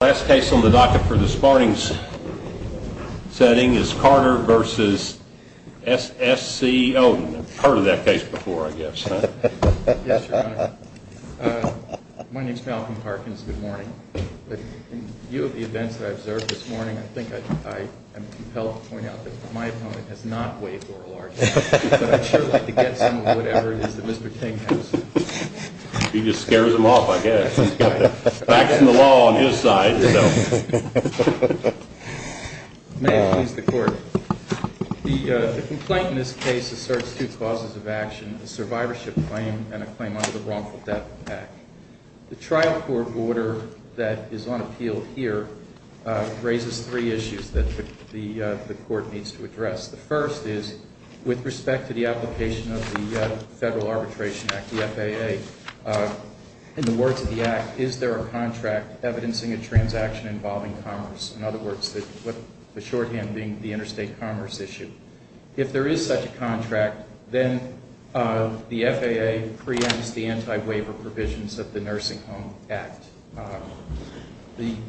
Last case on the docket for this morning's setting is Carter v. SSC Odin. I've heard of that case before, I guess, huh? Yes, Your Honor. My name's Malcolm Parkins. Good morning. In view of the events that I observed this morning, I think I'm compelled to point out that my opponent has not waived oral arguments, but I'd sure like to get some of whatever it is that Mr. King has. He just scares them off, I guess. He's got the facts and the law on his side, you know. May it please the Court. The complaint in this case asserts two causes of action, a survivorship claim and a claim under the Wrongful Death Act. The trial court order that is on appeal here raises three issues that the Court needs to address. The first is, with respect to the application of the Federal Arbitration Act, the FAA, in the words of the Act, is there a contract evidencing a transaction involving commerce? In other words, the shorthand being the interstate commerce issue. If there is such a contract, then the FAA preempts the anti-waiver provisions of the Nursing Home Act.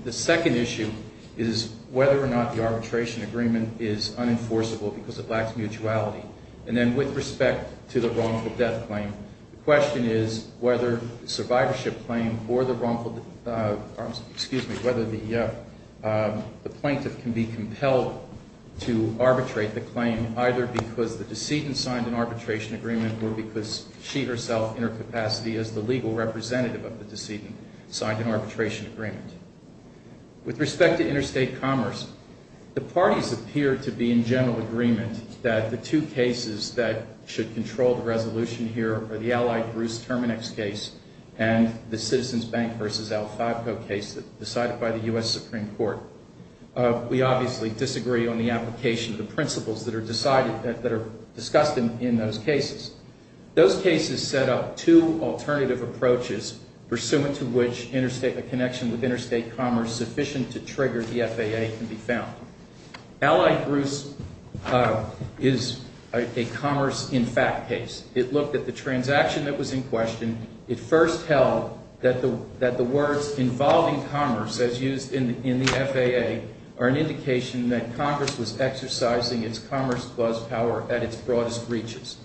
The second issue is whether or not the arbitration agreement is unenforceable because it lacks mutuality. And then with respect to the wrongful death claim, the question is whether the plaintiff can be compelled to arbitrate the claim, either because the decedent signed an arbitration agreement or because she herself, in her capacity as the legal representative of the decedent, signed an arbitration agreement. With respect to interstate commerce, the parties appear to be in general agreement that the two cases that should control the resolution here are the allied Bruce Terminex case and the Citizens Bank v. Alfabco case decided by the U.S. Supreme Court. We obviously disagree on the application of the principles that are discussed in those cases. Those cases set up two alternative approaches, pursuant to which a connection with interstate commerce sufficient to trigger the FAA can be found. Allied Bruce is a commerce in fact case. It looked at the transaction that was in question. It first held that the words involving commerce, as used in the FAA, are an indication that Congress was exercising its commerce plus power at its broadest reaches.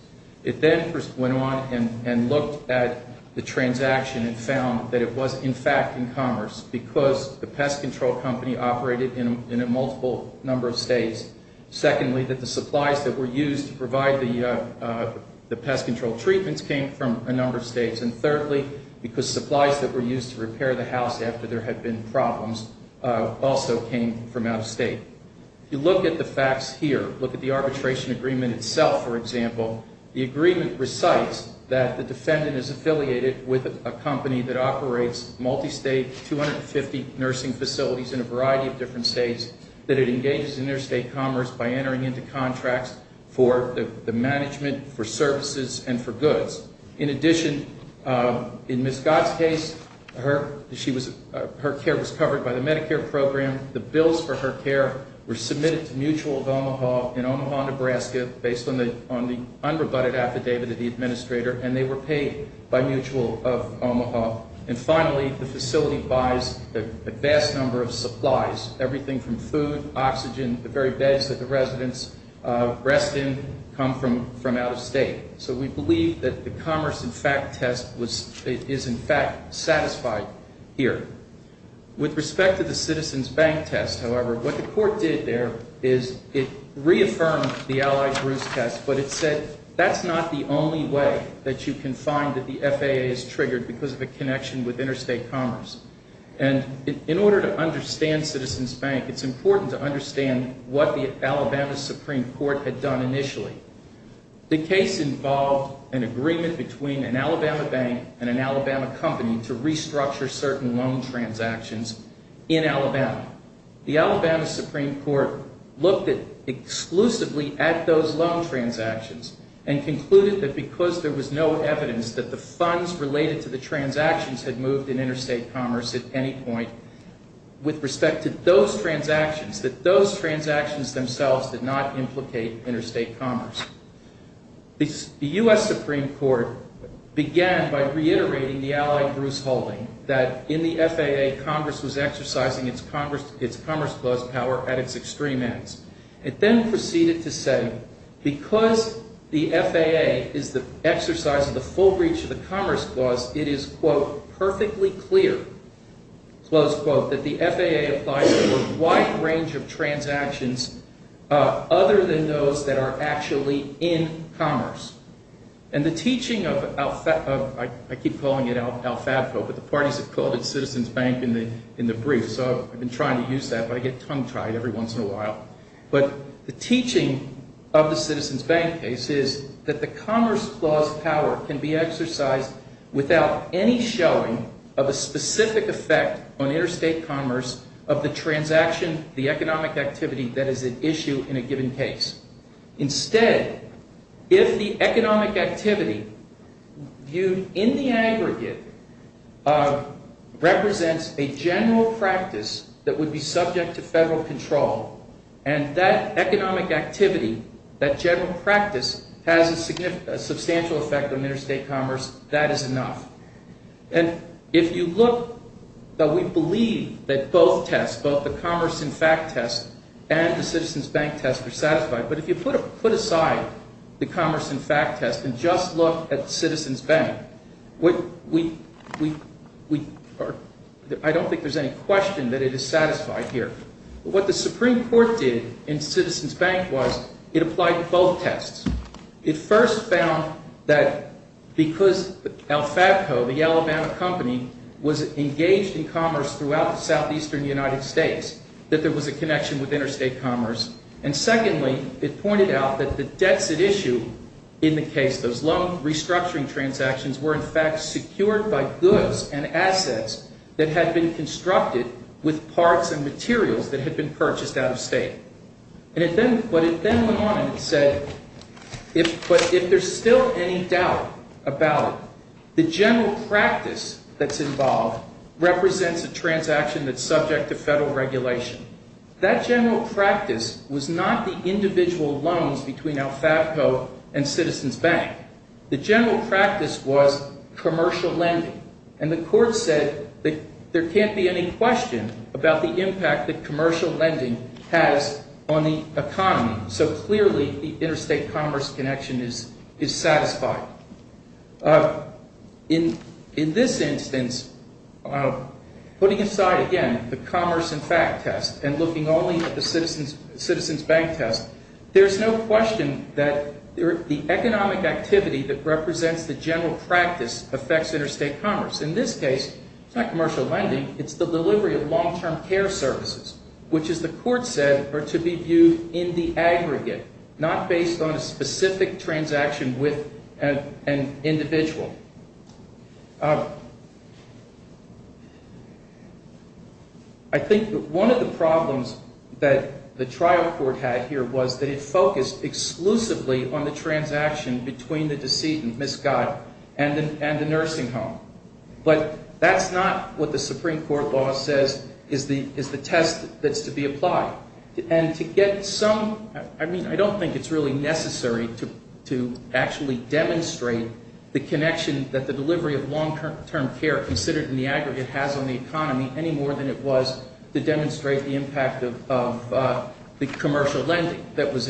It then went on and looked at the transaction and found that it was in fact in commerce because the pest control company operated in a multiple number of states. Secondly, that the supplies that were used to provide the pest control treatments came from a number of states. And thirdly, because supplies that were used to repair the house after there had been problems also came from out of state. If you look at the facts here, look at the arbitration agreement itself, for example, the agreement recites that the defendant is affiliated with a company that operates multi-state, 250 nursing facilities in a variety of different states, that it engages interstate commerce by entering into contracts for the management, for services, and for goods. In addition, in Ms. Gott's case, her care was covered by the Medicare program. The bills for her care were submitted to Mutual of Omaha in Omaha, Nebraska, based on the unrebutted affidavit of the administrator, and they were paid by Mutual of Omaha. And finally, the facility buys a vast number of supplies, everything from food, oxygen, the very beds that the residents rest in come from out of state. So we believe that the commerce in fact test is in fact satisfied here. With respect to the citizen's bank test, however, what the court did there is it reaffirmed the Allied Bruce test, but it said that's not the only way that you can find that the FAA is triggered because of a connection with interstate commerce. And in order to understand citizen's bank, it's important to understand what the Alabama Supreme Court had done initially. The case involved an agreement between an Alabama bank and an Alabama company to restructure certain loan transactions in Alabama. The Alabama Supreme Court looked exclusively at those loan transactions and concluded that because there was no evidence that the funds related to the transactions had moved in interstate commerce at any point with respect to those transactions, that those transactions themselves did not implicate interstate commerce. The U.S. Supreme Court began by reiterating the Allied Bruce holding that in the FAA, Congress was exercising its Commerce Clause power at its extreme ends. It then proceeded to say because the FAA is the exercise of the full reach of the Commerce Clause, it is, quote, perfectly clear, close quote, that the FAA applies to a wide range of transactions other than those that are actually in commerce. And the teaching of, I keep calling it alfabco, but the parties have called it citizen's bank in the brief, so I've been trying to use that, but I get tongue-tied every once in a while. But the teaching of the citizen's bank case is that the Commerce Clause power can be exercised without any showing of a specific effect on interstate commerce of the transaction, the economic activity that is at issue in a given case. Instead, if the economic activity viewed in the aggregate represents a general practice that would be subject to federal control, and that economic activity, that general practice has a substantial effect on interstate commerce, that is enough. And if you look, though we believe that both tests, both the commerce in fact test and the citizen's bank test are satisfied, but if you put aside the commerce in fact test and just look at the citizen's bank, I don't think there's any question that it is satisfied here. What the Supreme Court did in citizen's bank was it applied to both tests. It first found that because alfabco, the Alabama company, was engaged in commerce throughout the southeastern United States, that there was a connection with interstate commerce. And secondly, it pointed out that the debts at issue in the case, those loan restructuring transactions, were in fact secured by goods and assets that had been constructed with parts and materials that had been purchased out of state. But it then went on and it said, but if there's still any doubt about it, the general practice that's involved represents a transaction that's subject to federal regulation. That general practice was not the individual loans between alfabco and citizen's bank. The general practice was commercial lending. And the court said that there can't be any question about the impact that commercial lending has on the economy. So clearly, the interstate commerce connection is satisfied. In this instance, putting aside, again, the commerce in fact test and looking only at the citizen's bank test, there's no question that the economic activity that represents the general practice affects interstate commerce. In this case, it's not commercial lending. It's the delivery of long-term care services, which, as the court said, are to be viewed in the aggregate, not based on a specific transaction with an individual. I think that one of the problems that the trial court had here was that it focused exclusively on the transaction between the decedent, Ms. Goddard, and the nursing home. But that's not what the Supreme Court law says is the test that's to be applied. And to get some, I mean, I don't think it's really necessary to actually demonstrate the connection that the delivery of long-term care considered in the aggregate has on the economy any more than it was to demonstrate the impact of the commercial lending that was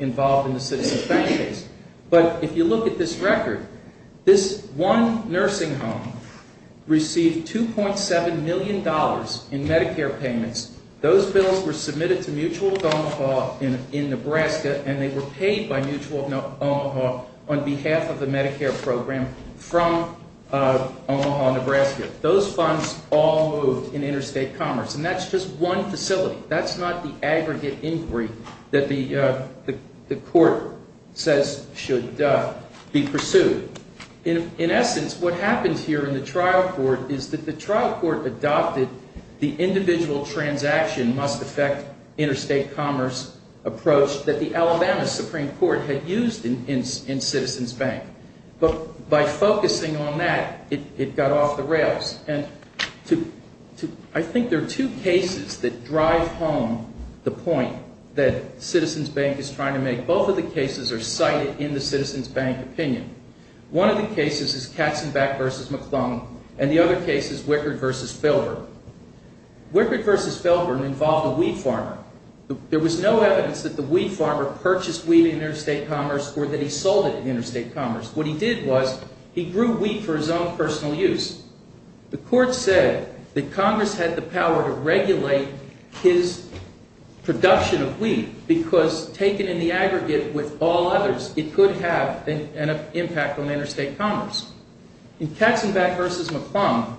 involved in the citizen's bank case. But if you look at this record, this one nursing home received $2.7 million in Medicare payments. Those bills were submitted to Mutual of Omaha in Nebraska, and they were paid by Mutual of Omaha on behalf of the Medicare program from Omaha, Nebraska. Those funds all moved in interstate commerce. And that's just one facility. That's not the aggregate inquiry that the court says should be pursued. In essence, what happens here in the trial court is that the trial court adopted the individual transaction must affect interstate commerce approach that the Alabama Supreme Court had used in citizen's bank. But by focusing on that, it got off the rails. And I think there are two cases that drive home the point that citizen's bank is trying to make. Both of the cases are cited in the citizen's bank opinion. One of the cases is Katzenbeck v. McClung, and the other case is Wickard v. Filburn. Wickard v. Filburn involved a wheat farmer. There was no evidence that the wheat farmer purchased wheat in interstate commerce or that he sold it in interstate commerce. What he did was he grew wheat for his own personal use. The court said that Congress had the power to regulate his production of wheat because taken in the aggregate with all others, it could have an impact on interstate commerce. In Katzenbeck v. McClung,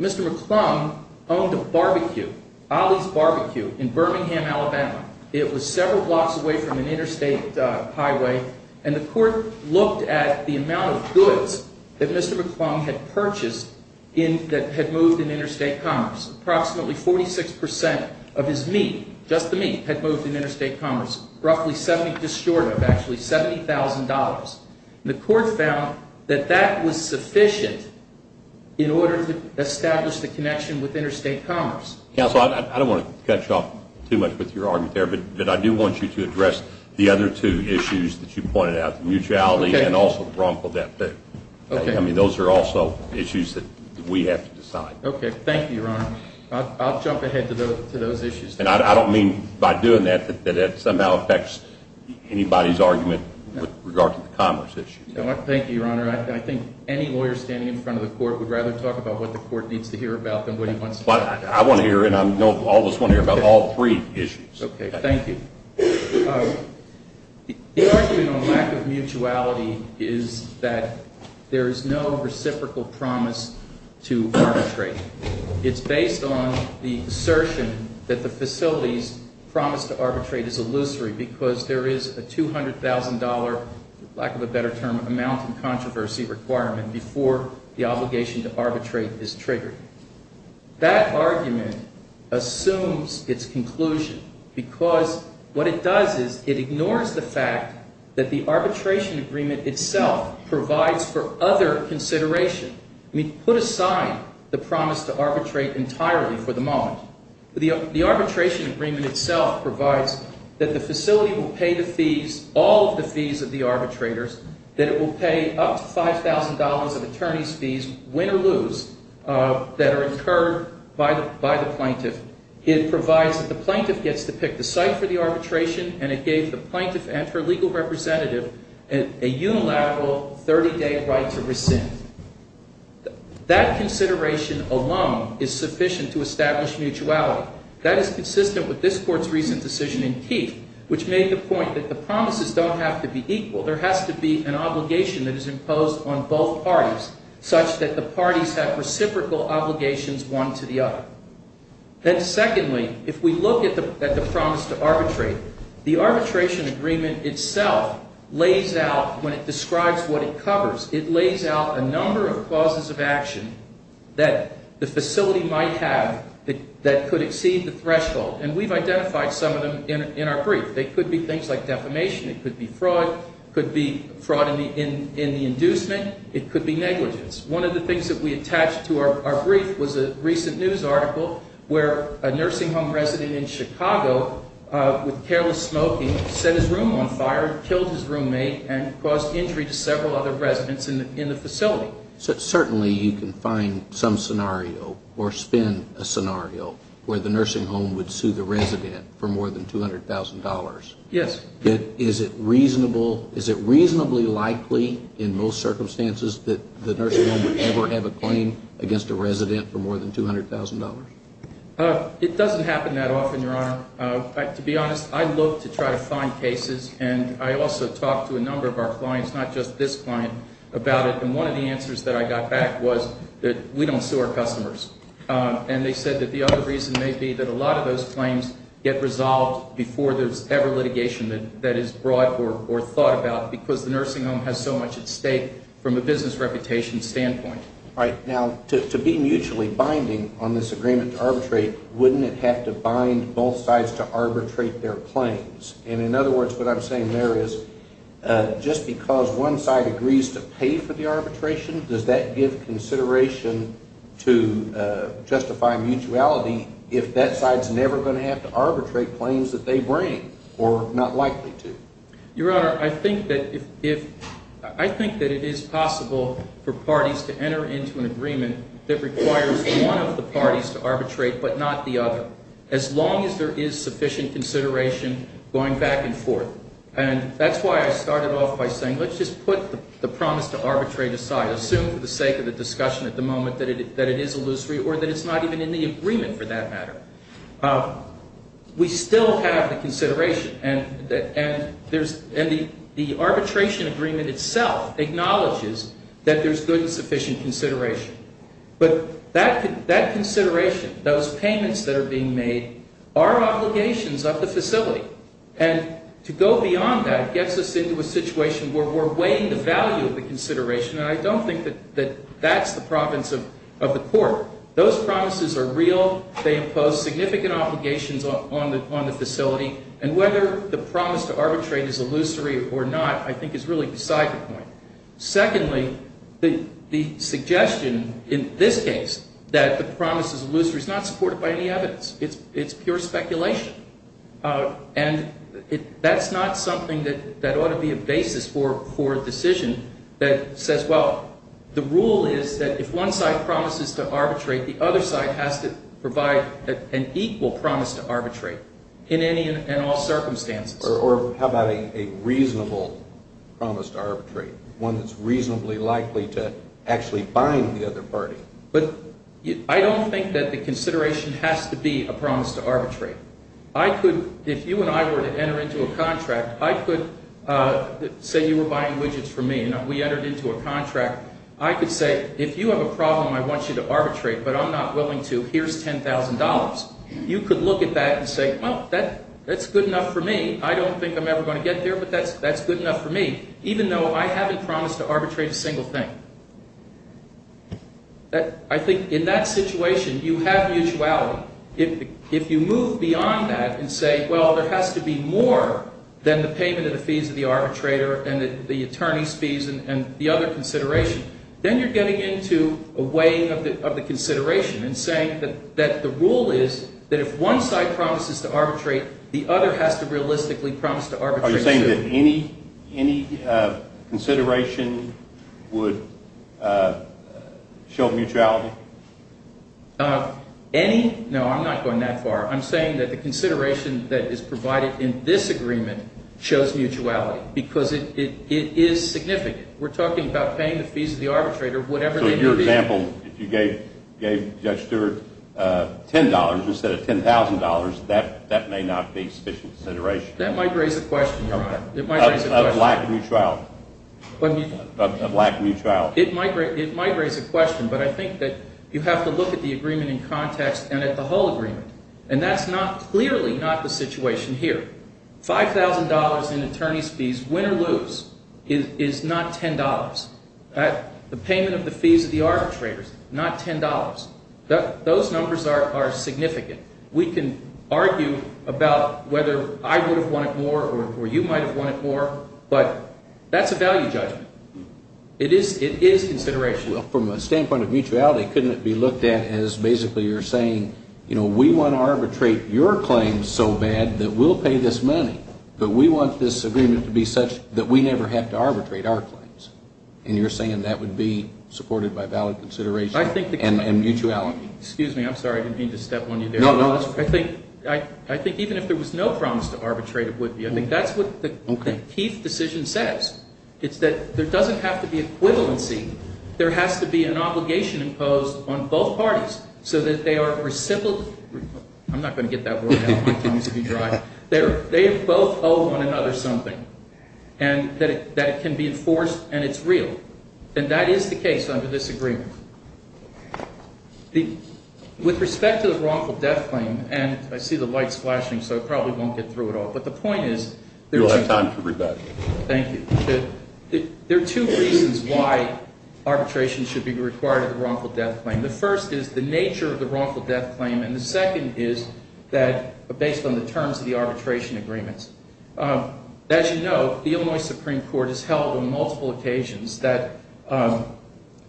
Mr. McClung owned a barbecue, Ollie's Barbecue, in Birmingham, Alabama. It was several blocks away from an interstate highway. And the court looked at the amount of goods that Mr. McClung had purchased that had moved in interstate commerce. Approximately 46 percent of his meat, just the meat, had moved in interstate commerce. Just short of, actually, $70,000. And the court found that that was sufficient in order to establish the connection with interstate commerce. Counsel, I don't want to cut you off too much with your argument there, but I do want you to address the other two issues that you pointed out, the mutuality and also the wrongful death bill. Okay. I mean, those are also issues that we have to decide. Okay. Thank you, Your Honor. I'll jump ahead to those issues. And I don't mean by doing that that that somehow affects anybody's argument with regard to the commerce issue. Thank you, Your Honor. I think any lawyer standing in front of the court would rather talk about what the court needs to hear about than what he wants to hear. I want to hear, and I know all of us want to hear about all three issues. Okay. Thank you. The argument on lack of mutuality is that there is no reciprocal promise to arbitrate. It's based on the assertion that the facility's promise to arbitrate is illusory because there is a $200,000, lack of a better term, amount in controversy requirement before the obligation to arbitrate is triggered. That argument assumes its conclusion because what it does is it ignores the fact that the arbitration agreement itself provides for other consideration. I mean, put aside the promise to arbitrate entirely for the moment. The arbitration agreement itself provides that the facility will pay the fees, all of the fees of the arbitrators, that it will pay up to $5,000 of attorney's fees, win or lose, that are incurred by the plaintiff. It provides that the plaintiff gets to pick the site for the arbitration, and it gave the plaintiff and her legal representative a unilateral 30-day right to rescind. That consideration alone is sufficient to establish mutuality. That is consistent with this Court's recent decision in Keith, which made the point that the promises don't have to be equal. There has to be an obligation that is imposed on both parties such that the parties have reciprocal obligations one to the other. Then secondly, if we look at the promise to arbitrate, the arbitration agreement itself lays out, when it describes what it covers, it lays out a number of causes of action that the facility might have that could exceed the threshold. And we've identified some of them in our brief. They could be things like defamation. It could be fraud. It could be fraud in the inducement. It could be negligence. One of the things that we attached to our brief was a recent news article where a nursing home resident in Chicago, with careless smoking, set his room on fire, killed his roommate, and caused injury to several other residents in the facility. Certainly you can find some scenario or spin a scenario where the nursing home would sue the resident for more than $200,000. Yes. Is it reasonably likely in most circumstances that the nursing home would ever have a claim against a resident for more than $200,000? It doesn't happen that often, Your Honor. To be honest, I look to try to find cases, and I also talk to a number of our clients, not just this client, about it. And one of the answers that I got back was that we don't sue our customers. And they said that the other reason may be that a lot of those claims get resolved before there's ever litigation that is brought or thought about because the nursing home has so much at stake from a business reputation standpoint. All right. Now, to be mutually binding on this agreement to arbitrate, wouldn't it have to bind both sides to arbitrate their claims? And in other words, what I'm saying there is just because one side agrees to pay for the arbitration, does that give consideration to justify mutuality if that side is never going to have to arbitrate claims that they bring or not likely to? Your Honor, I think that it is possible for parties to enter into an agreement that requires one of the parties to arbitrate but not the other. As long as there is sufficient consideration going back and forth. And that's why I started off by saying let's just put the promise to arbitrate aside. Assume for the sake of the discussion at the moment that it is illusory or that it's not even in the agreement for that matter. We still have the consideration, and the arbitration agreement itself acknowledges that there's good and sufficient consideration. But that consideration, those payments that are being made, are obligations of the facility. And to go beyond that gets us into a situation where we're weighing the value of the consideration. And I don't think that that's the province of the court. Those promises are real. They impose significant obligations on the facility. And whether the promise to arbitrate is illusory or not, I think, is really beside the point. Secondly, the suggestion in this case that the promise is illusory is not supported by any evidence. It's pure speculation. And that's not something that ought to be a basis for a decision that says, well, the rule is that if one side promises to arbitrate, the other side has to provide an equal promise to arbitrate in any and all circumstances. Or how about a reasonable promise to arbitrate, one that's reasonably likely to actually bind the other party? But I don't think that the consideration has to be a promise to arbitrate. I could, if you and I were to enter into a contract, I could say you were buying widgets from me, and we entered into a contract. I could say, if you have a problem I want you to arbitrate, but I'm not willing to, here's $10,000. You could look at that and say, well, that's good enough for me. I don't think I'm ever going to get there, but that's good enough for me, even though I haven't promised to arbitrate a single thing. I think in that situation, you have mutuality. If you move beyond that and say, well, there has to be more than the payment of the fees of the arbitrator and the attorney's fees and the other consideration, then you're getting into a weighing of the consideration and saying that the rule is that if one side promises to arbitrate, the other has to realistically promise to arbitrate. Are you saying that any consideration would show mutuality? Any? No, I'm not going that far. I'm saying that the consideration that is provided in this agreement shows mutuality because it is significant. We're talking about paying the fees of the arbitrator, whatever they may be. So in your example, if you gave Judge Stewart $10 instead of $10,000, that may not be sufficient consideration? That might raise a question, Your Honor. A lack of mutuality? It might raise a question, but I think that you have to look at the agreement in context and at the whole agreement. And that's clearly not the situation here. $5,000 in attorney's fees, win or lose, is not $10. The payment of the fees of the arbitrator is not $10. Those numbers are significant. We can argue about whether I would have wanted more or you might have wanted more, but that's a value judgment. It is consideration. Well, from a standpoint of mutuality, couldn't it be looked at as basically you're saying, you know, we want to arbitrate your claims so bad that we'll pay this money, but we want this agreement to be such that we never have to arbitrate our claims. And you're saying that would be supported by valid consideration and mutuality. Excuse me. I'm sorry. I didn't mean to step on you there. No, no. I think even if there was no promise to arbitrate, it would be. I think that's what the Keith decision says. It's that there doesn't have to be equivalency. There has to be an obligation imposed on both parties so that they are reciprocal. I'm not going to get that. They both owe one another something and that it can be enforced and it's real. And that is the case under this agreement. With respect to the wrongful death claim, and I see the lights flashing, so I probably won't get through it all. But the point is. You'll have time to read that. Thank you. There are two reasons why arbitration should be required of the wrongful death claim. The first is the nature of the wrongful death claim. And the second is that based on the terms of the arbitration agreements. As you know, the Illinois Supreme Court has held on multiple occasions that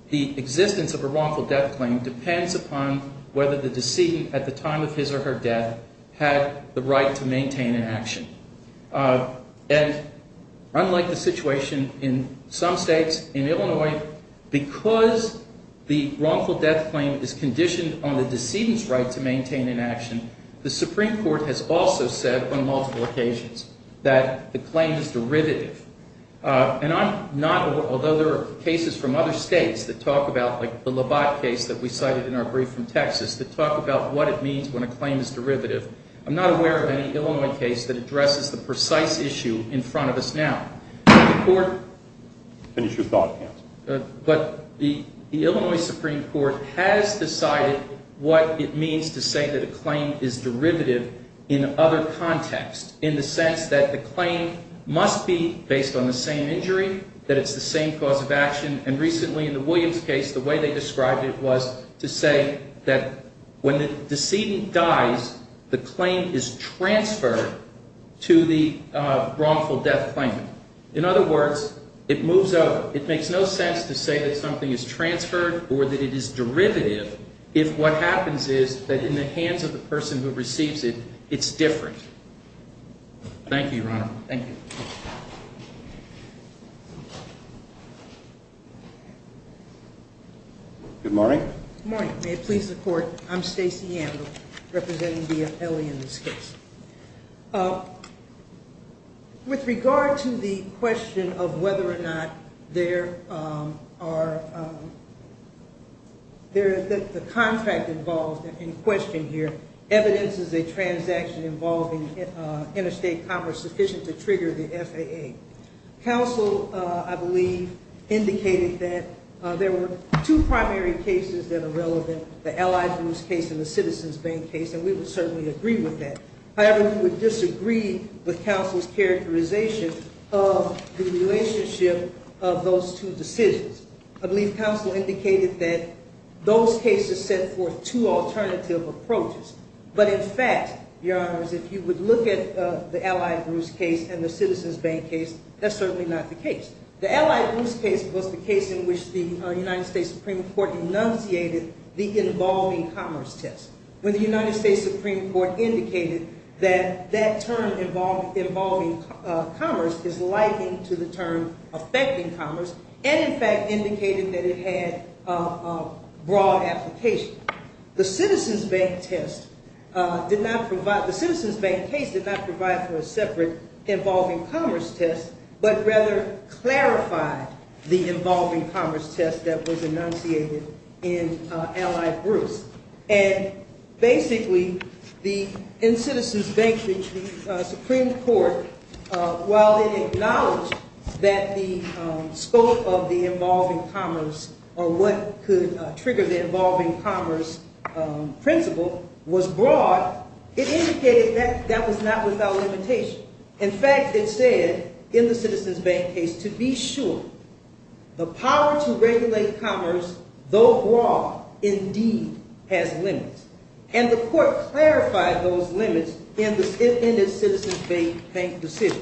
the existence of a wrongful death claim depends upon whether the decedent at the time of his or her death had the right to maintain an action. And unlike the situation in some states, in Illinois, because the wrongful death claim is conditioned on the decedent's right to maintain an action, the Supreme Court has also said on multiple occasions that the claim is derivative. And I'm not, although there are cases from other states that talk about, like the Labatt case that we cited in our brief from Texas, that talk about what it means when a claim is derivative. I'm not aware of any Illinois case that addresses the precise issue in front of us now. But the court. Finish your thought, Hans. But the Illinois Supreme Court has decided what it means to say that a claim is derivative in other contexts. In the sense that the claim must be based on the same injury, that it's the same cause of action. And recently in the Williams case, the way they described it was to say that when the decedent dies, the claim is transferred to the wrongful death claim. In other words, it moves over. It makes no sense to say that something is transferred or that it is derivative if what happens is that in the hands of the person who receives it, it's different. Thank you, Your Honor. Thank you. Good morning. Good morning. May it please the Court, I'm Stacey Amble, representing the appellee in this case. With regard to the question of whether or not there are, that the contract involved in question here evidences a transaction involving interstate commerce sufficient to trigger the FAA. Counsel, I believe, indicated that there were two primary cases that are relevant, the Allied Bruce case and the Citizens Bank case, and we would certainly agree with that. However, we would disagree with counsel's characterization of the relationship of those two decisions. I believe counsel indicated that those cases set forth two alternative approaches. But in fact, Your Honors, if you would look at the Allied Bruce case and the Citizens Bank case, that's certainly not the case. The Allied Bruce case was the case in which the United States Supreme Court denunciated the involving commerce test. When the United States Supreme Court indicated that that term involving commerce is likened to the term affecting commerce and, in fact, indicated that it had broad application. The Citizens Bank test did not provide, the Citizens Bank case did not provide for a separate involving commerce test, but rather clarified the involving commerce test that was enunciated in Allied Bruce. And basically, in Citizens Bank, the Supreme Court, while it acknowledged that the scope of the involving commerce or what could trigger the involving commerce principle was broad, it indicated that that was not without limitation. In fact, it said in the Citizens Bank case, to be sure, the power to regulate commerce, though broad, indeed has limits. And the court clarified those limits in the Citizens Bank decision.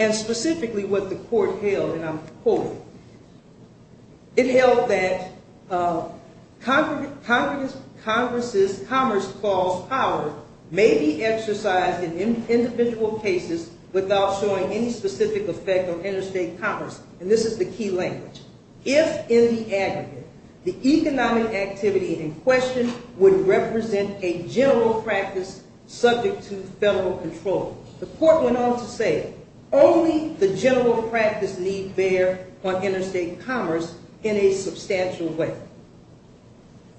And specifically what the court held, and I'm quoting, it held that Congress's commerce clause power may be exercised in individual cases without showing any specific effect on interstate commerce. And this is the key language. If, in the aggregate, the economic activity in question would represent a general practice subject to federal control. The court went on to say, only the general practice need bear on interstate commerce in a substantial way.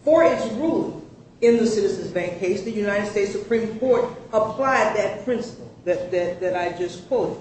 For its ruling in the Citizens Bank case, the United States Supreme Court applied that principle that I just quoted.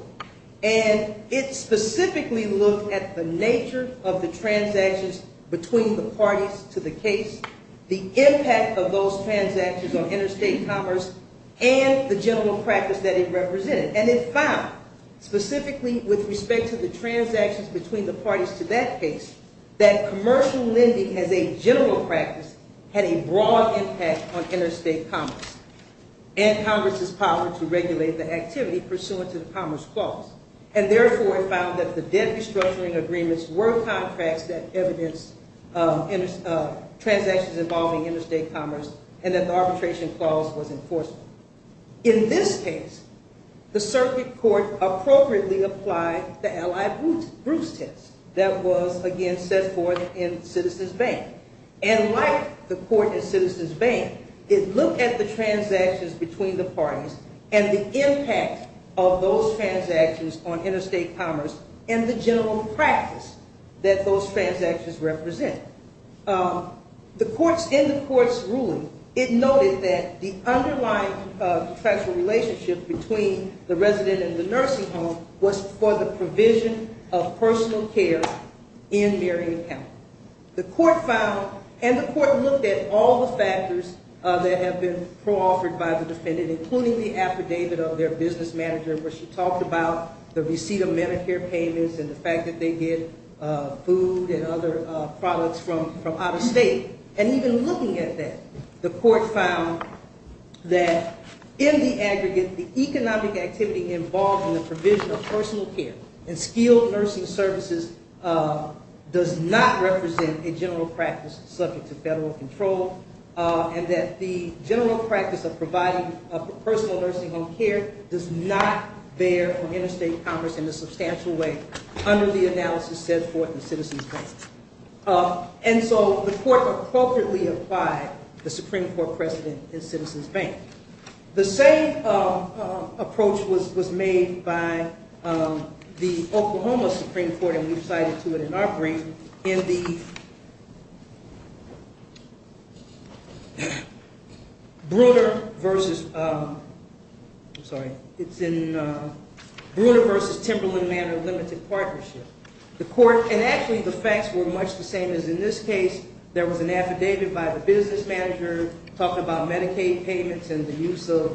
And it specifically looked at the nature of the transactions between the parties to the case, the impact of those transactions on interstate commerce, and the general practice that it represented. And it found, specifically with respect to the transactions between the parties to that case, that commercial lending as a general practice had a broad impact on interstate commerce. And Congress's power to regulate the activity pursuant to the commerce clause. And therefore, it found that the debt restructuring agreements were contracts that evidenced transactions involving interstate commerce, and that the arbitration clause was enforceable. In this case, the circuit court appropriately applied the Allied Bruce test that was, again, set forth in Citizens Bank. And like the court in Citizens Bank, it looked at the transactions between the parties and the impact of those transactions on interstate commerce and the general practice that those transactions represent. In the court's ruling, it noted that the underlying contractual relationship between the resident and the nursing home was for the provision of personal care in Marion County. The court found, and the court looked at all the factors that have been co-offered by the defendant, including the affidavit of their business manager where she talked about the receipt of Medicare payments and the fact that they get food and other products from out of state. And even looking at that, the court found that in the aggregate, the economic activity involved in the provision of personal care and skilled nursing services does not represent a general practice subject to federal control, and that the general practice of providing personal nursing home care does not bear for interstate commerce in a substantial way under the analysis set forth in Citizens Bank. And so the court appropriately applied the Supreme Court precedent in Citizens Bank. The same approach was made by the Oklahoma Supreme Court, and we've cited to it in our brief, in the Bruner v. Timberland Manor Limited Partnership. And actually, the facts were much the same as in this case. There was an affidavit by the business manager talking about Medicaid payments and the use of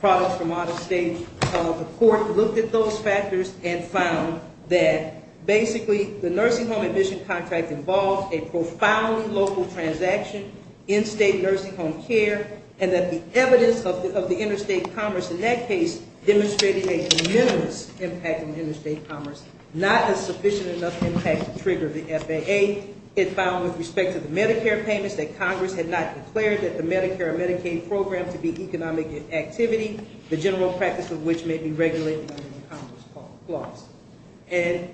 products from out of state. The court looked at those factors and found that basically the nursing home admission contract involved a profoundly local transaction in state nursing home care, and that the evidence of the interstate commerce in that case demonstrated a de minimis impact on interstate commerce, not a sufficient enough impact to trigger the FAA. It found with respect to the Medicare payments that Congress had not declared that the Medicare and Medicaid program to be economic activity, the general practice of which may be regulated under the Congress clause. And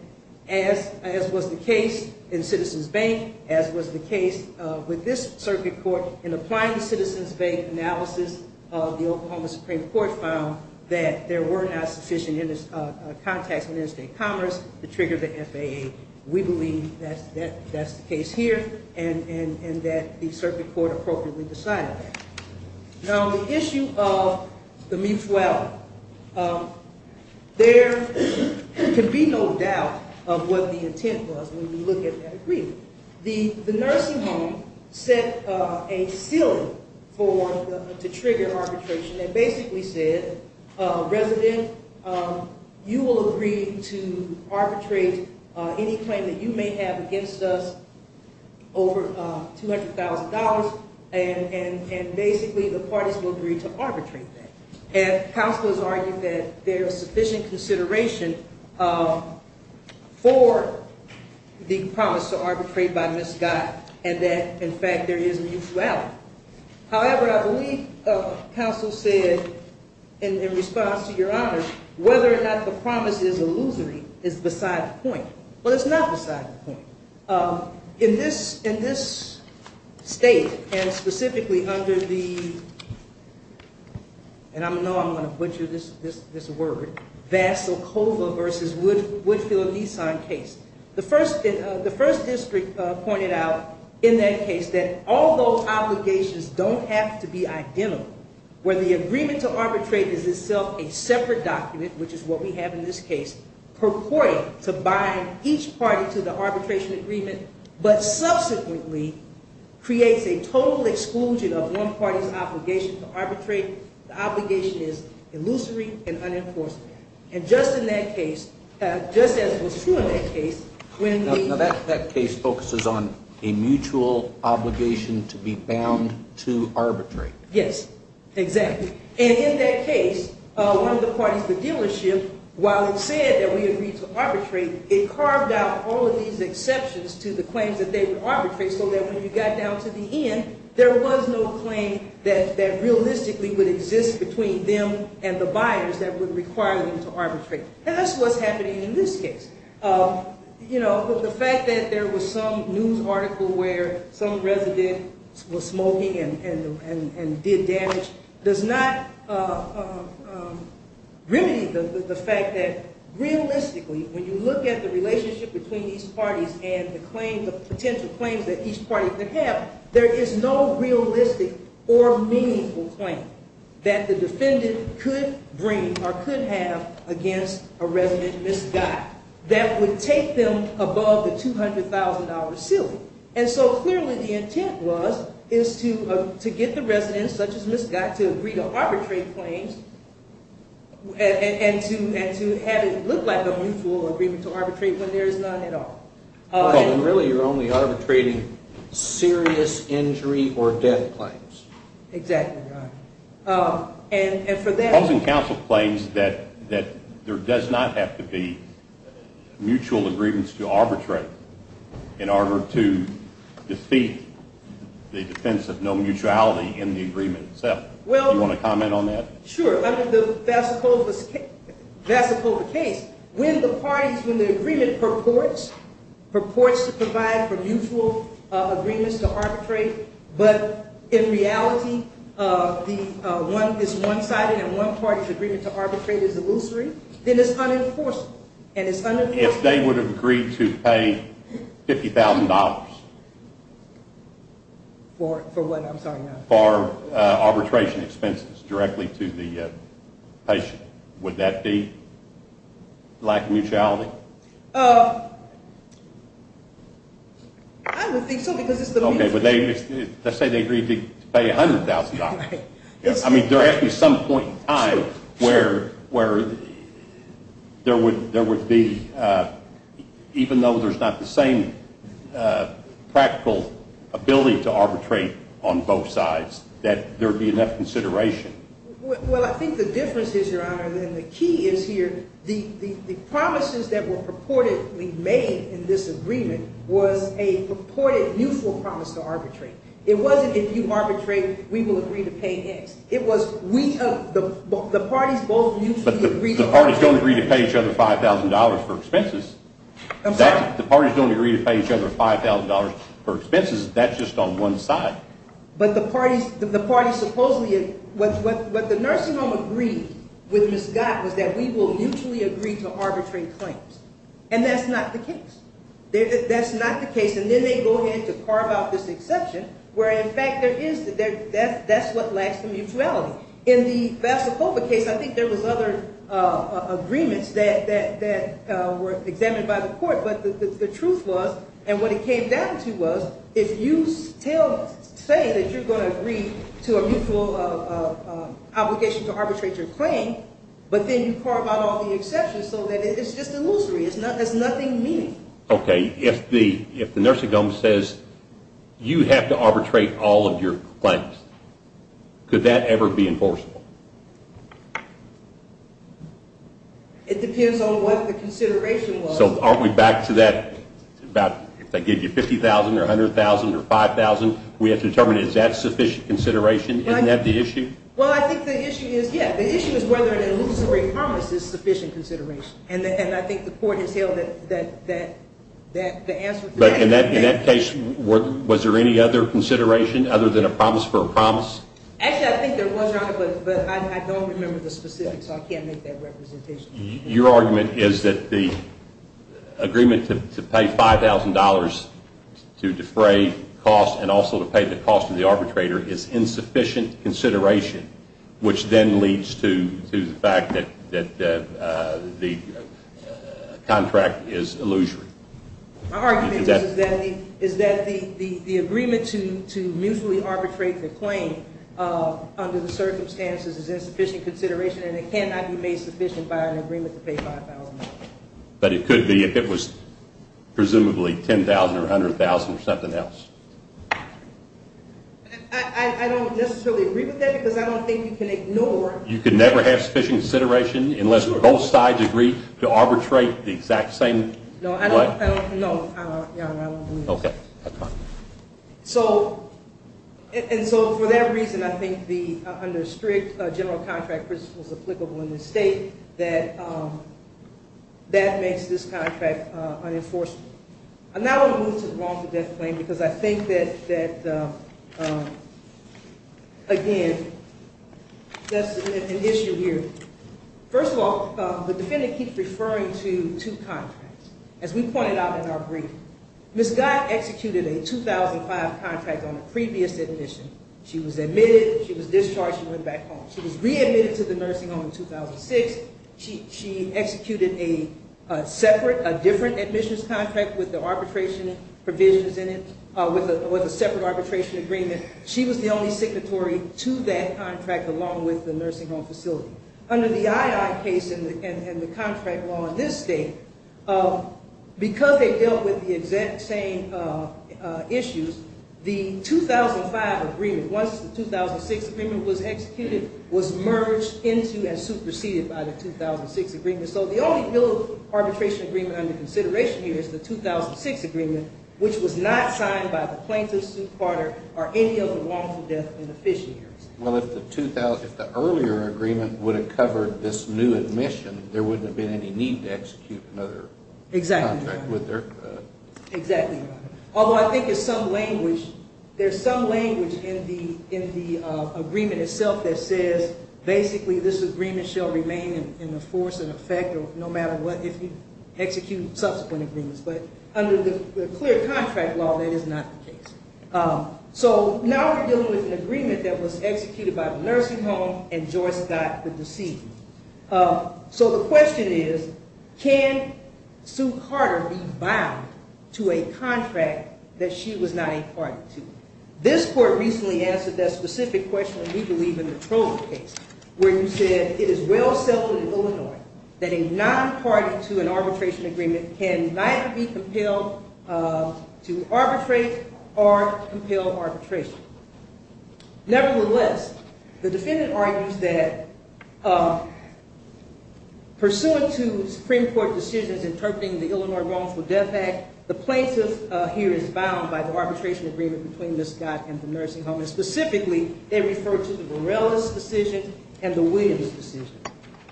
as was the case in Citizens Bank, as was the case with this circuit court, in applying the Citizens Bank analysis, the Oklahoma Supreme Court found that there were not sufficient contacts in interstate commerce to trigger the FAA. We believe that that's the case here and that the circuit court appropriately decided that. Now, the issue of the MIFWA, there can be no doubt of what the intent was when you look at that agreement. The nursing home set a ceiling to trigger arbitration that basically said, resident, you will agree to arbitrate any claim that you may have against us over $200,000. And basically, the parties will agree to arbitrate that. And counsel has argued that there is sufficient consideration for the promise to arbitrate by Ms. Scott and that, in fact, there is a mutuality. However, I believe counsel said in response to Your Honor, whether or not the promise is illusory is beside the point. Well, it's not beside the point. In this state and specifically under the, and I know I'm going to butcher this word, Vasilkova v. Woodfield-Nissan case, the first district pointed out in that case that all those obligations don't have to be identical, where the agreement to arbitrate is itself a separate document, which is what we have in this case, purported to bind each party to the arbitration agreement, but subsequently creates a total exclusion of one party's obligation to arbitrate. The obligation is illusory and unenforced. And just in that case, just as was true in that case, when the — Now, that case focuses on a mutual obligation to be bound to arbitrate. Yes, exactly. And in that case, one of the parties, the dealership, while it said that we agreed to arbitrate, it carved out all of these exceptions to the claims that they would arbitrate so that when you got down to the end, there was no claim that realistically would exist between them and the buyers that would require them to arbitrate. And that's what's happening in this case. You know, the fact that there was some news article where some resident was smoking and did damage does not remedy the fact that realistically, when you look at the relationship between these parties and the claims, the potential claims that each party could have, there is no realistic or meaningful claim that the defendant could bring or could have against a resident misguided. That would take them above the $200,000 ceiling. And so clearly the intent was is to get the residents, such as Ms. Gott, to agree to arbitrate claims and to have it look like a mutual agreement to arbitrate when there is none at all. Well, then really you're only arbitrating serious injury or death claims. Exactly right. The Housing Council claims that there does not have to be mutual agreements to arbitrate in order to defeat the defense of no mutuality in the agreement itself. Do you want to comment on that? Sure. Under the Vassipova case, when the parties, when the agreement purports to provide for mutual agreements to arbitrate, but in reality is one-sided and one party's agreement to arbitrate is illusory, then it's unenforceable. If they would have agreed to pay $50,000 for arbitration expenses directly to the patient, would that be lack of mutuality? I would think so because it's a little... Let's say they agreed to pay $100,000. I mean, there has to be some point in time where there would be, even though there's not the same practical ability to arbitrate on both sides, that there would be enough consideration. Well, I think the difference is, Your Honor, and the key is here, the promises that were purportedly made in this agreement was a purported mutual promise to arbitrate. It wasn't if you arbitrate, we will agree to pay X. It was the parties both mutually agreed to arbitrate. But the parties don't agree to pay each other $5,000 for expenses. I'm sorry? The parties don't agree to pay each other $5,000 for expenses. That's just on one side. But the parties supposedly... What the nursing home agreed with Ms. Gott was that we will mutually agree to arbitrate claims. And that's not the case. That's not the case. And then they go ahead to carve out this exception where, in fact, that's what lacks the mutuality. In the Vassilkova case, I think there was other agreements that were examined by the court. But the truth was, and what it came down to was, if you still say that you're going to agree to a mutual obligation to arbitrate your claim, but then you carve out all the exceptions so that it's just illusory. There's nothing meaningful. Okay. And if the nursing home says, you have to arbitrate all of your claims, could that ever be enforceable? It depends on what the consideration was. So aren't we back to that, if they give you $50,000 or $100,000 or $5,000, we have to determine is that sufficient consideration? Isn't that the issue? Well, I think the issue is, yeah, the issue is whether an illusory promise is sufficient consideration. And I think the court has held that the answer to that is yes. But in that case, was there any other consideration other than a promise for a promise? Actually, I think there was, Your Honor, but I don't remember the specifics, so I can't make that representation. Your argument is that the agreement to pay $5,000 to defray costs and also to pay the cost of the arbitrator is insufficient consideration, which then leads to the fact that the contract is illusory. My argument is that the agreement to mutually arbitrate the claim under the circumstances is insufficient consideration and it cannot be made sufficient by an agreement to pay $5,000. But it could be if it was presumably $10,000 or $100,000 or something else. I don't necessarily agree with that because I don't think you can ignore You can never have sufficient consideration unless both sides agree to arbitrate the exact same What? No, Your Honor, I don't believe that. Okay. And so for that reason, I think under strict general contract principles applicable in this state, that makes this contract unenforceable. I now want to move to the wrongful death claim because I think that, again, that's an issue here. First of all, the defendant keeps referring to two contracts. As we pointed out in our briefing, Ms. Gott executed a 2005 contract on a previous admission. She was admitted. She was discharged. She went back home. She was readmitted to the nursing home in 2006. She executed a separate, a different admissions contract with the arbitration provisions in it, with a separate arbitration agreement. She was the only signatory to that contract along with the nursing home facility. Under the II case and the contract law in this state, because they dealt with the exact same issues, the 2005 agreement, once the 2006 agreement was executed, was merged into and superseded by the 2006 agreement. So the only real arbitration agreement under consideration here is the 2006 agreement, which was not signed by the plaintiff, suit parter, or any of the wrongful death beneficiaries. Well, if the earlier agreement would have covered this new admission, there wouldn't have been any need to execute another contract, would there? Exactly right. Exactly right. Although I think there's some language in the agreement itself that says basically this agreement shall remain in the force and effect no matter what, if you execute subsequent agreements. But under the clear contract law, that is not the case. So now we're dealing with an agreement that was executed by the nursing home, and Joyce got the deceit. So the question is, can Sue Carter be bound to a contract that she was not a party to? This court recently answered that specific question when we believe in the Trove case, where you said, it is well settled in Illinois that a non-party to an arbitration agreement can neither be compelled to arbitrate or compel arbitration. Nevertheless, the defendant argues that pursuant to Supreme Court decisions interpreting the Illinois Wrongful Death Act, the plaintiff here is bound by the arbitration agreement between Ms. Scott and the nursing home, and specifically they refer to the Varela's decision and the Williams decision.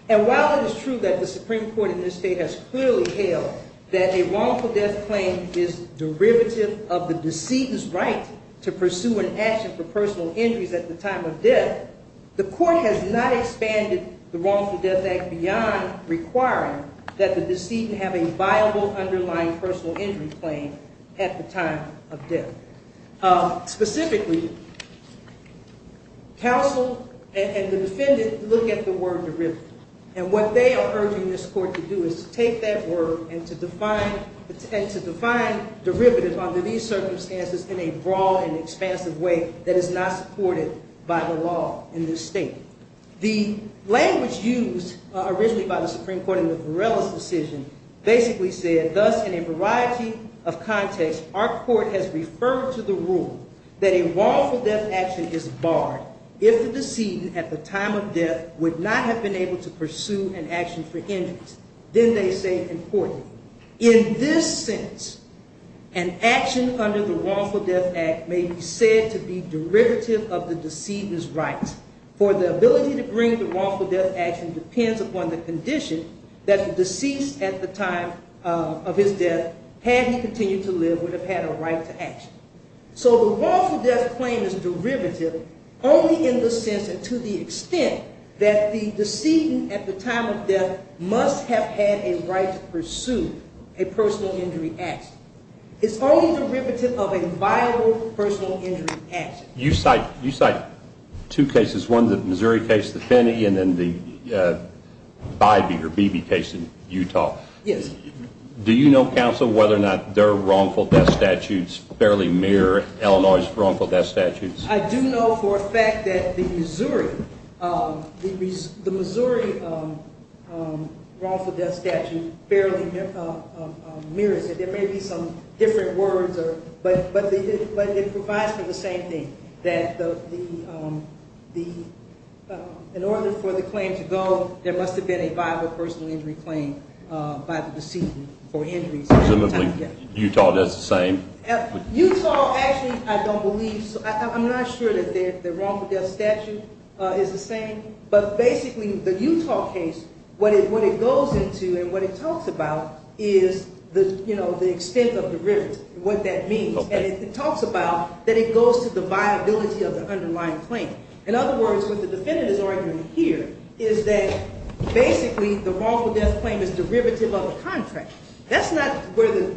And while it is true that the Supreme Court in this state has clearly held that a wrongful death claim is derivative of the deceitous right to pursue an action for personal injuries at the time of death, the court has not expanded the Wrongful Death Act beyond requiring that the deceit have a viable underlying personal injury claim at the time of death. Specifically, counsel and the defendant look at the word derivative, and what they are urging this court to do is to take that word and to define derivative under these circumstances in a broad and expansive way that is not supported by the law in this state. The language used originally by the Supreme Court in the Varela's decision basically said, thus in a variety of contexts, our court has referred to the rule that a wrongful death action is barred if the decedent at the time of death would not have been able to pursue an action for injuries. Then they say, importantly, in this sense, an action under the Wrongful Death Act may be said to be derivative of the decedent's right, for the ability to bring the wrongful death action depends upon the condition that the deceased at the time of his death, had he continued to live, would have had a right to action. So the wrongful death claim is derivative only in the sense and to the extent that the decedent at the time of death must have had a right to pursue a personal injury action. It's only derivative of a viable personal injury action. You cite two cases, one the Missouri case, the Finney, and then the Bybee or Beebe case in Utah. Yes. Do you know, counsel, whether or not their wrongful death statutes barely mirror Illinois' wrongful death statutes? I do know for a fact that the Missouri wrongful death statute barely mirrors it. There may be some different words, but it provides for the same thing, that in order for the claim to go, there must have been a viable personal injury claim by the decedent for injuries at the time of death. Presumably Utah does the same? Utah, actually, I don't believe so. I'm not sure that their wrongful death statute is the same, but basically the Utah case, what it goes into and what it talks about is the extent of derivative, what that means. And it talks about that it goes to the viability of the underlying claim. In other words, what the defendant is arguing here is that basically the wrongful death claim is derivative of a contract. That's not where the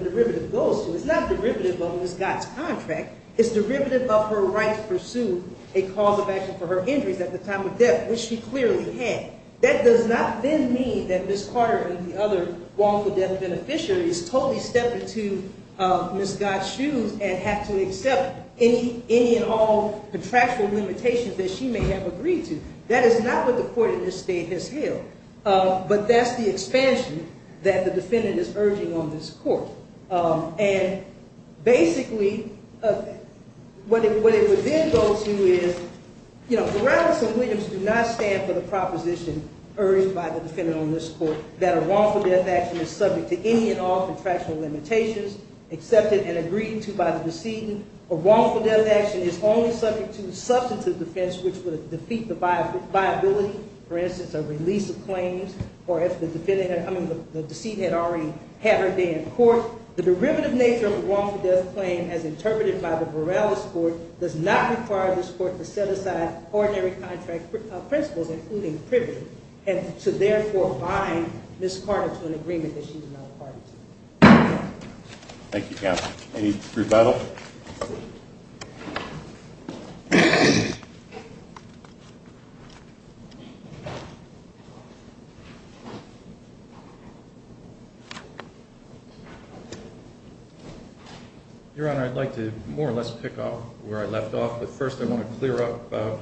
derivative goes to. It's not derivative of Ms. Gott's contract. It's derivative of her right to pursue a cause of action for her injuries at the time of death, which she clearly had. That does not then mean that Ms. Carter and the other wrongful death beneficiaries totally step into Ms. Gott's shoes and have to accept any and all contractual limitations that she may have agreed to. That is not what the court in this state has held. But that's the expansion that the defendant is urging on this court. And basically what it would then go to is, you know, Ferraris and Williams do not stand for the proposition urged by the defendant on this court that a wrongful death action is subject to any and all contractual limitations accepted and agreed to by the decedent. A wrongful death action is only subject to the substantive defense, which would defeat the viability, for instance, a release of claims, or if the decedent had already had her day in court. The derivative nature of a wrongful death claim, as interpreted by the Borales Court, does not require this court to set aside ordinary contract principles, including privilege, and to therefore bind Ms. Carter to an agreement that she is not a party to. Thank you, Counsel. Any rebuttal? Your Honor, I'd like to more or less pick up where I left off. But first I want to clear up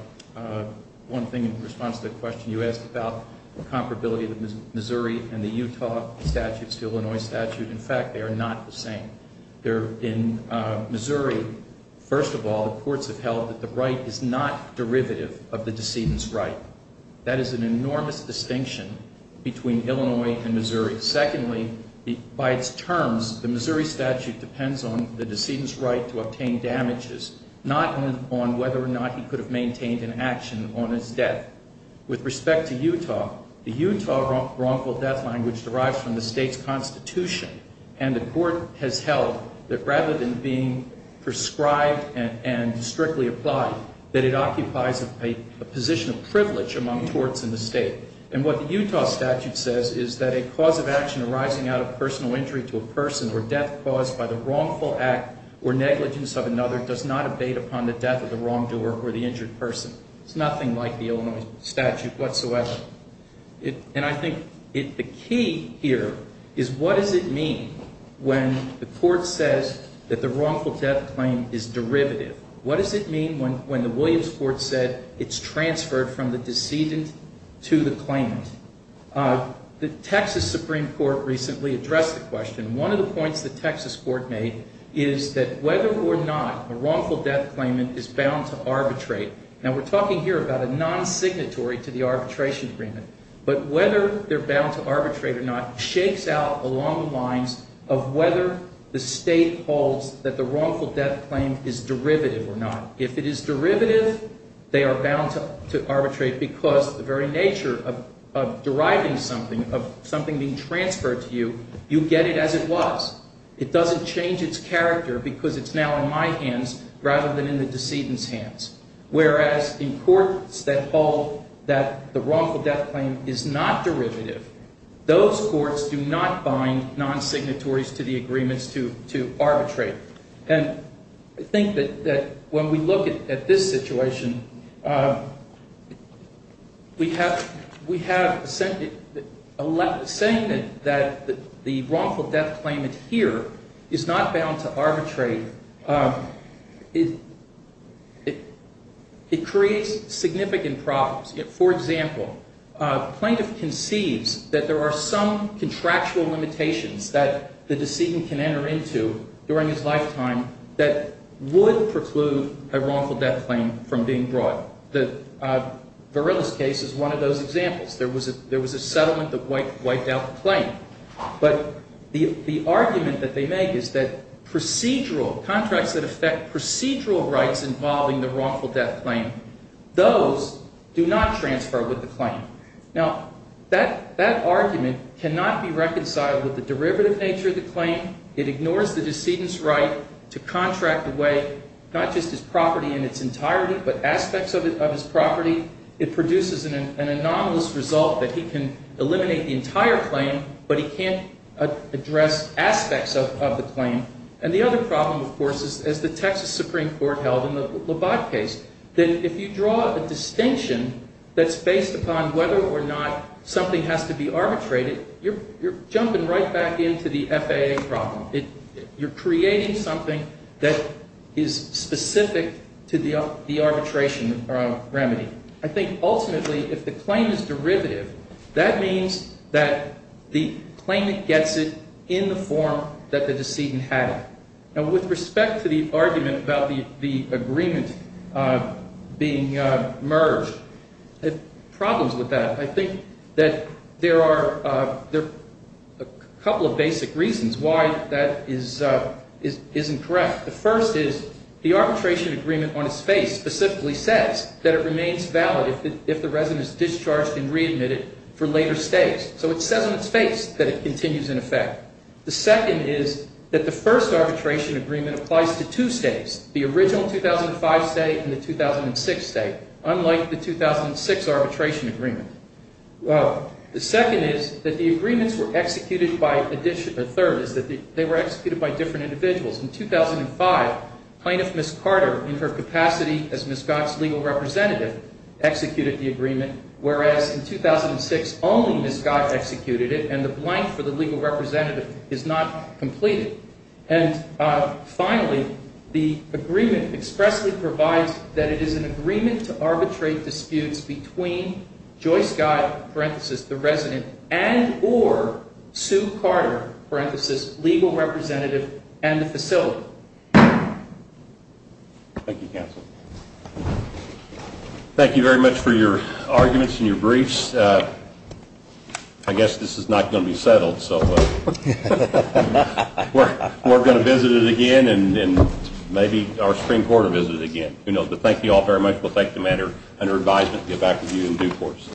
one thing in response to the question you asked about the comparability of the Missouri and the Utah statutes to Illinois statute. In fact, they are not the same. In Missouri, first of all, the courts have held that the right is not derivative of the decedent's right. That is an enormous distinction between Illinois and Missouri. Secondly, by its terms, the Missouri statute depends on the decedent's right to obtain damages, not on whether or not he could have maintained an action on his death. With respect to Utah, the Utah wrongful death language derives from the state's constitution. And the court has held that rather than being prescribed and strictly applied, that it occupies a position of privilege among courts in the state. And what the Utah statute says is that a cause of action arising out of personal injury to a person or death caused by the wrongful act or negligence of another does not abate upon the death of the wrongdoer or the injured person. It's nothing like the Illinois statute whatsoever. And I think the key here is what does it mean when the court says that the wrongful death claim is derivative? What does it mean when the Williams court said it's transferred from the decedent to the claimant? The Texas Supreme Court recently addressed the question. One of the points the Texas court made is that whether or not a wrongful death claimant is bound to arbitrate. Now, we're talking here about a non-signatory to the arbitration agreement. But whether they're bound to arbitrate or not shakes out along the lines of whether the state holds that the wrongful death claim is derivative or not. If it is derivative, they are bound to arbitrate because the very nature of deriving something, of something being transferred to you, you get it as it was. It doesn't change its character because it's now in my hands rather than in the decedent's hands. Whereas in courts that hold that the wrongful death claim is not derivative, those courts do not bind non-signatories to the agreements to arbitrate. And I think that when we look at this situation, we have a saying that the wrongful death claimant here is not bound to arbitrate. It creates significant problems. For example, a plaintiff conceives that there are some contractual limitations that the decedent can enter into during his lifetime that would preclude a wrongful death claim from being brought. The Verrilli's case is one of those examples. There was a settlement that wiped out the claim. But the argument that they make is that contracts that affect procedural rights involving the wrongful death claim, those do not transfer with the claim. Now, that argument cannot be reconciled with the derivative nature of the claim. It ignores the decedent's right to contract away not just his property in its entirety but aspects of his property. It produces an anomalous result that he can eliminate the entire claim, but he can't address aspects of the claim. And the other problem, of course, is as the Texas Supreme Court held in the Labatt case, that if you draw a distinction that's based upon whether or not something has to be arbitrated, you're jumping right back into the FAA problem. You're creating something that is specific to the arbitration remedy. I think ultimately, if the claim is derivative, that means that the claimant gets it in the form that the decedent had it. Now, with respect to the argument about the agreement being merged, there are problems with that. I think that there are a couple of basic reasons why that isn't correct. The first is the arbitration agreement on its face specifically says that it remains valid if the resident is discharged and readmitted for later stays. So it says on its face that it continues in effect. The second is that the first arbitration agreement applies to two states, the original 2005 state and the 2006 state, unlike the 2006 arbitration agreement. The second is that the agreements were executed by a third, is that they were executed by different individuals. In 2005, plaintiff Ms. Carter, in her capacity as Ms. Scott's legal representative, executed the agreement, whereas in 2006 only Ms. Scott executed it. And the blank for the legal representative is not completed. And finally, the agreement expressly provides that it is an agreement to arbitrate disputes between Joyce Scott, parenthesis, the resident, and or Sue Carter, parenthesis, legal representative, and the facility. Thank you, counsel. Thank you very much for your arguments and your briefs. I guess this is not going to be settled, so we're going to visit it again and maybe our spring quarter visit again. But thank you all very much. We'll take the matter under advisement and get back with you in due course.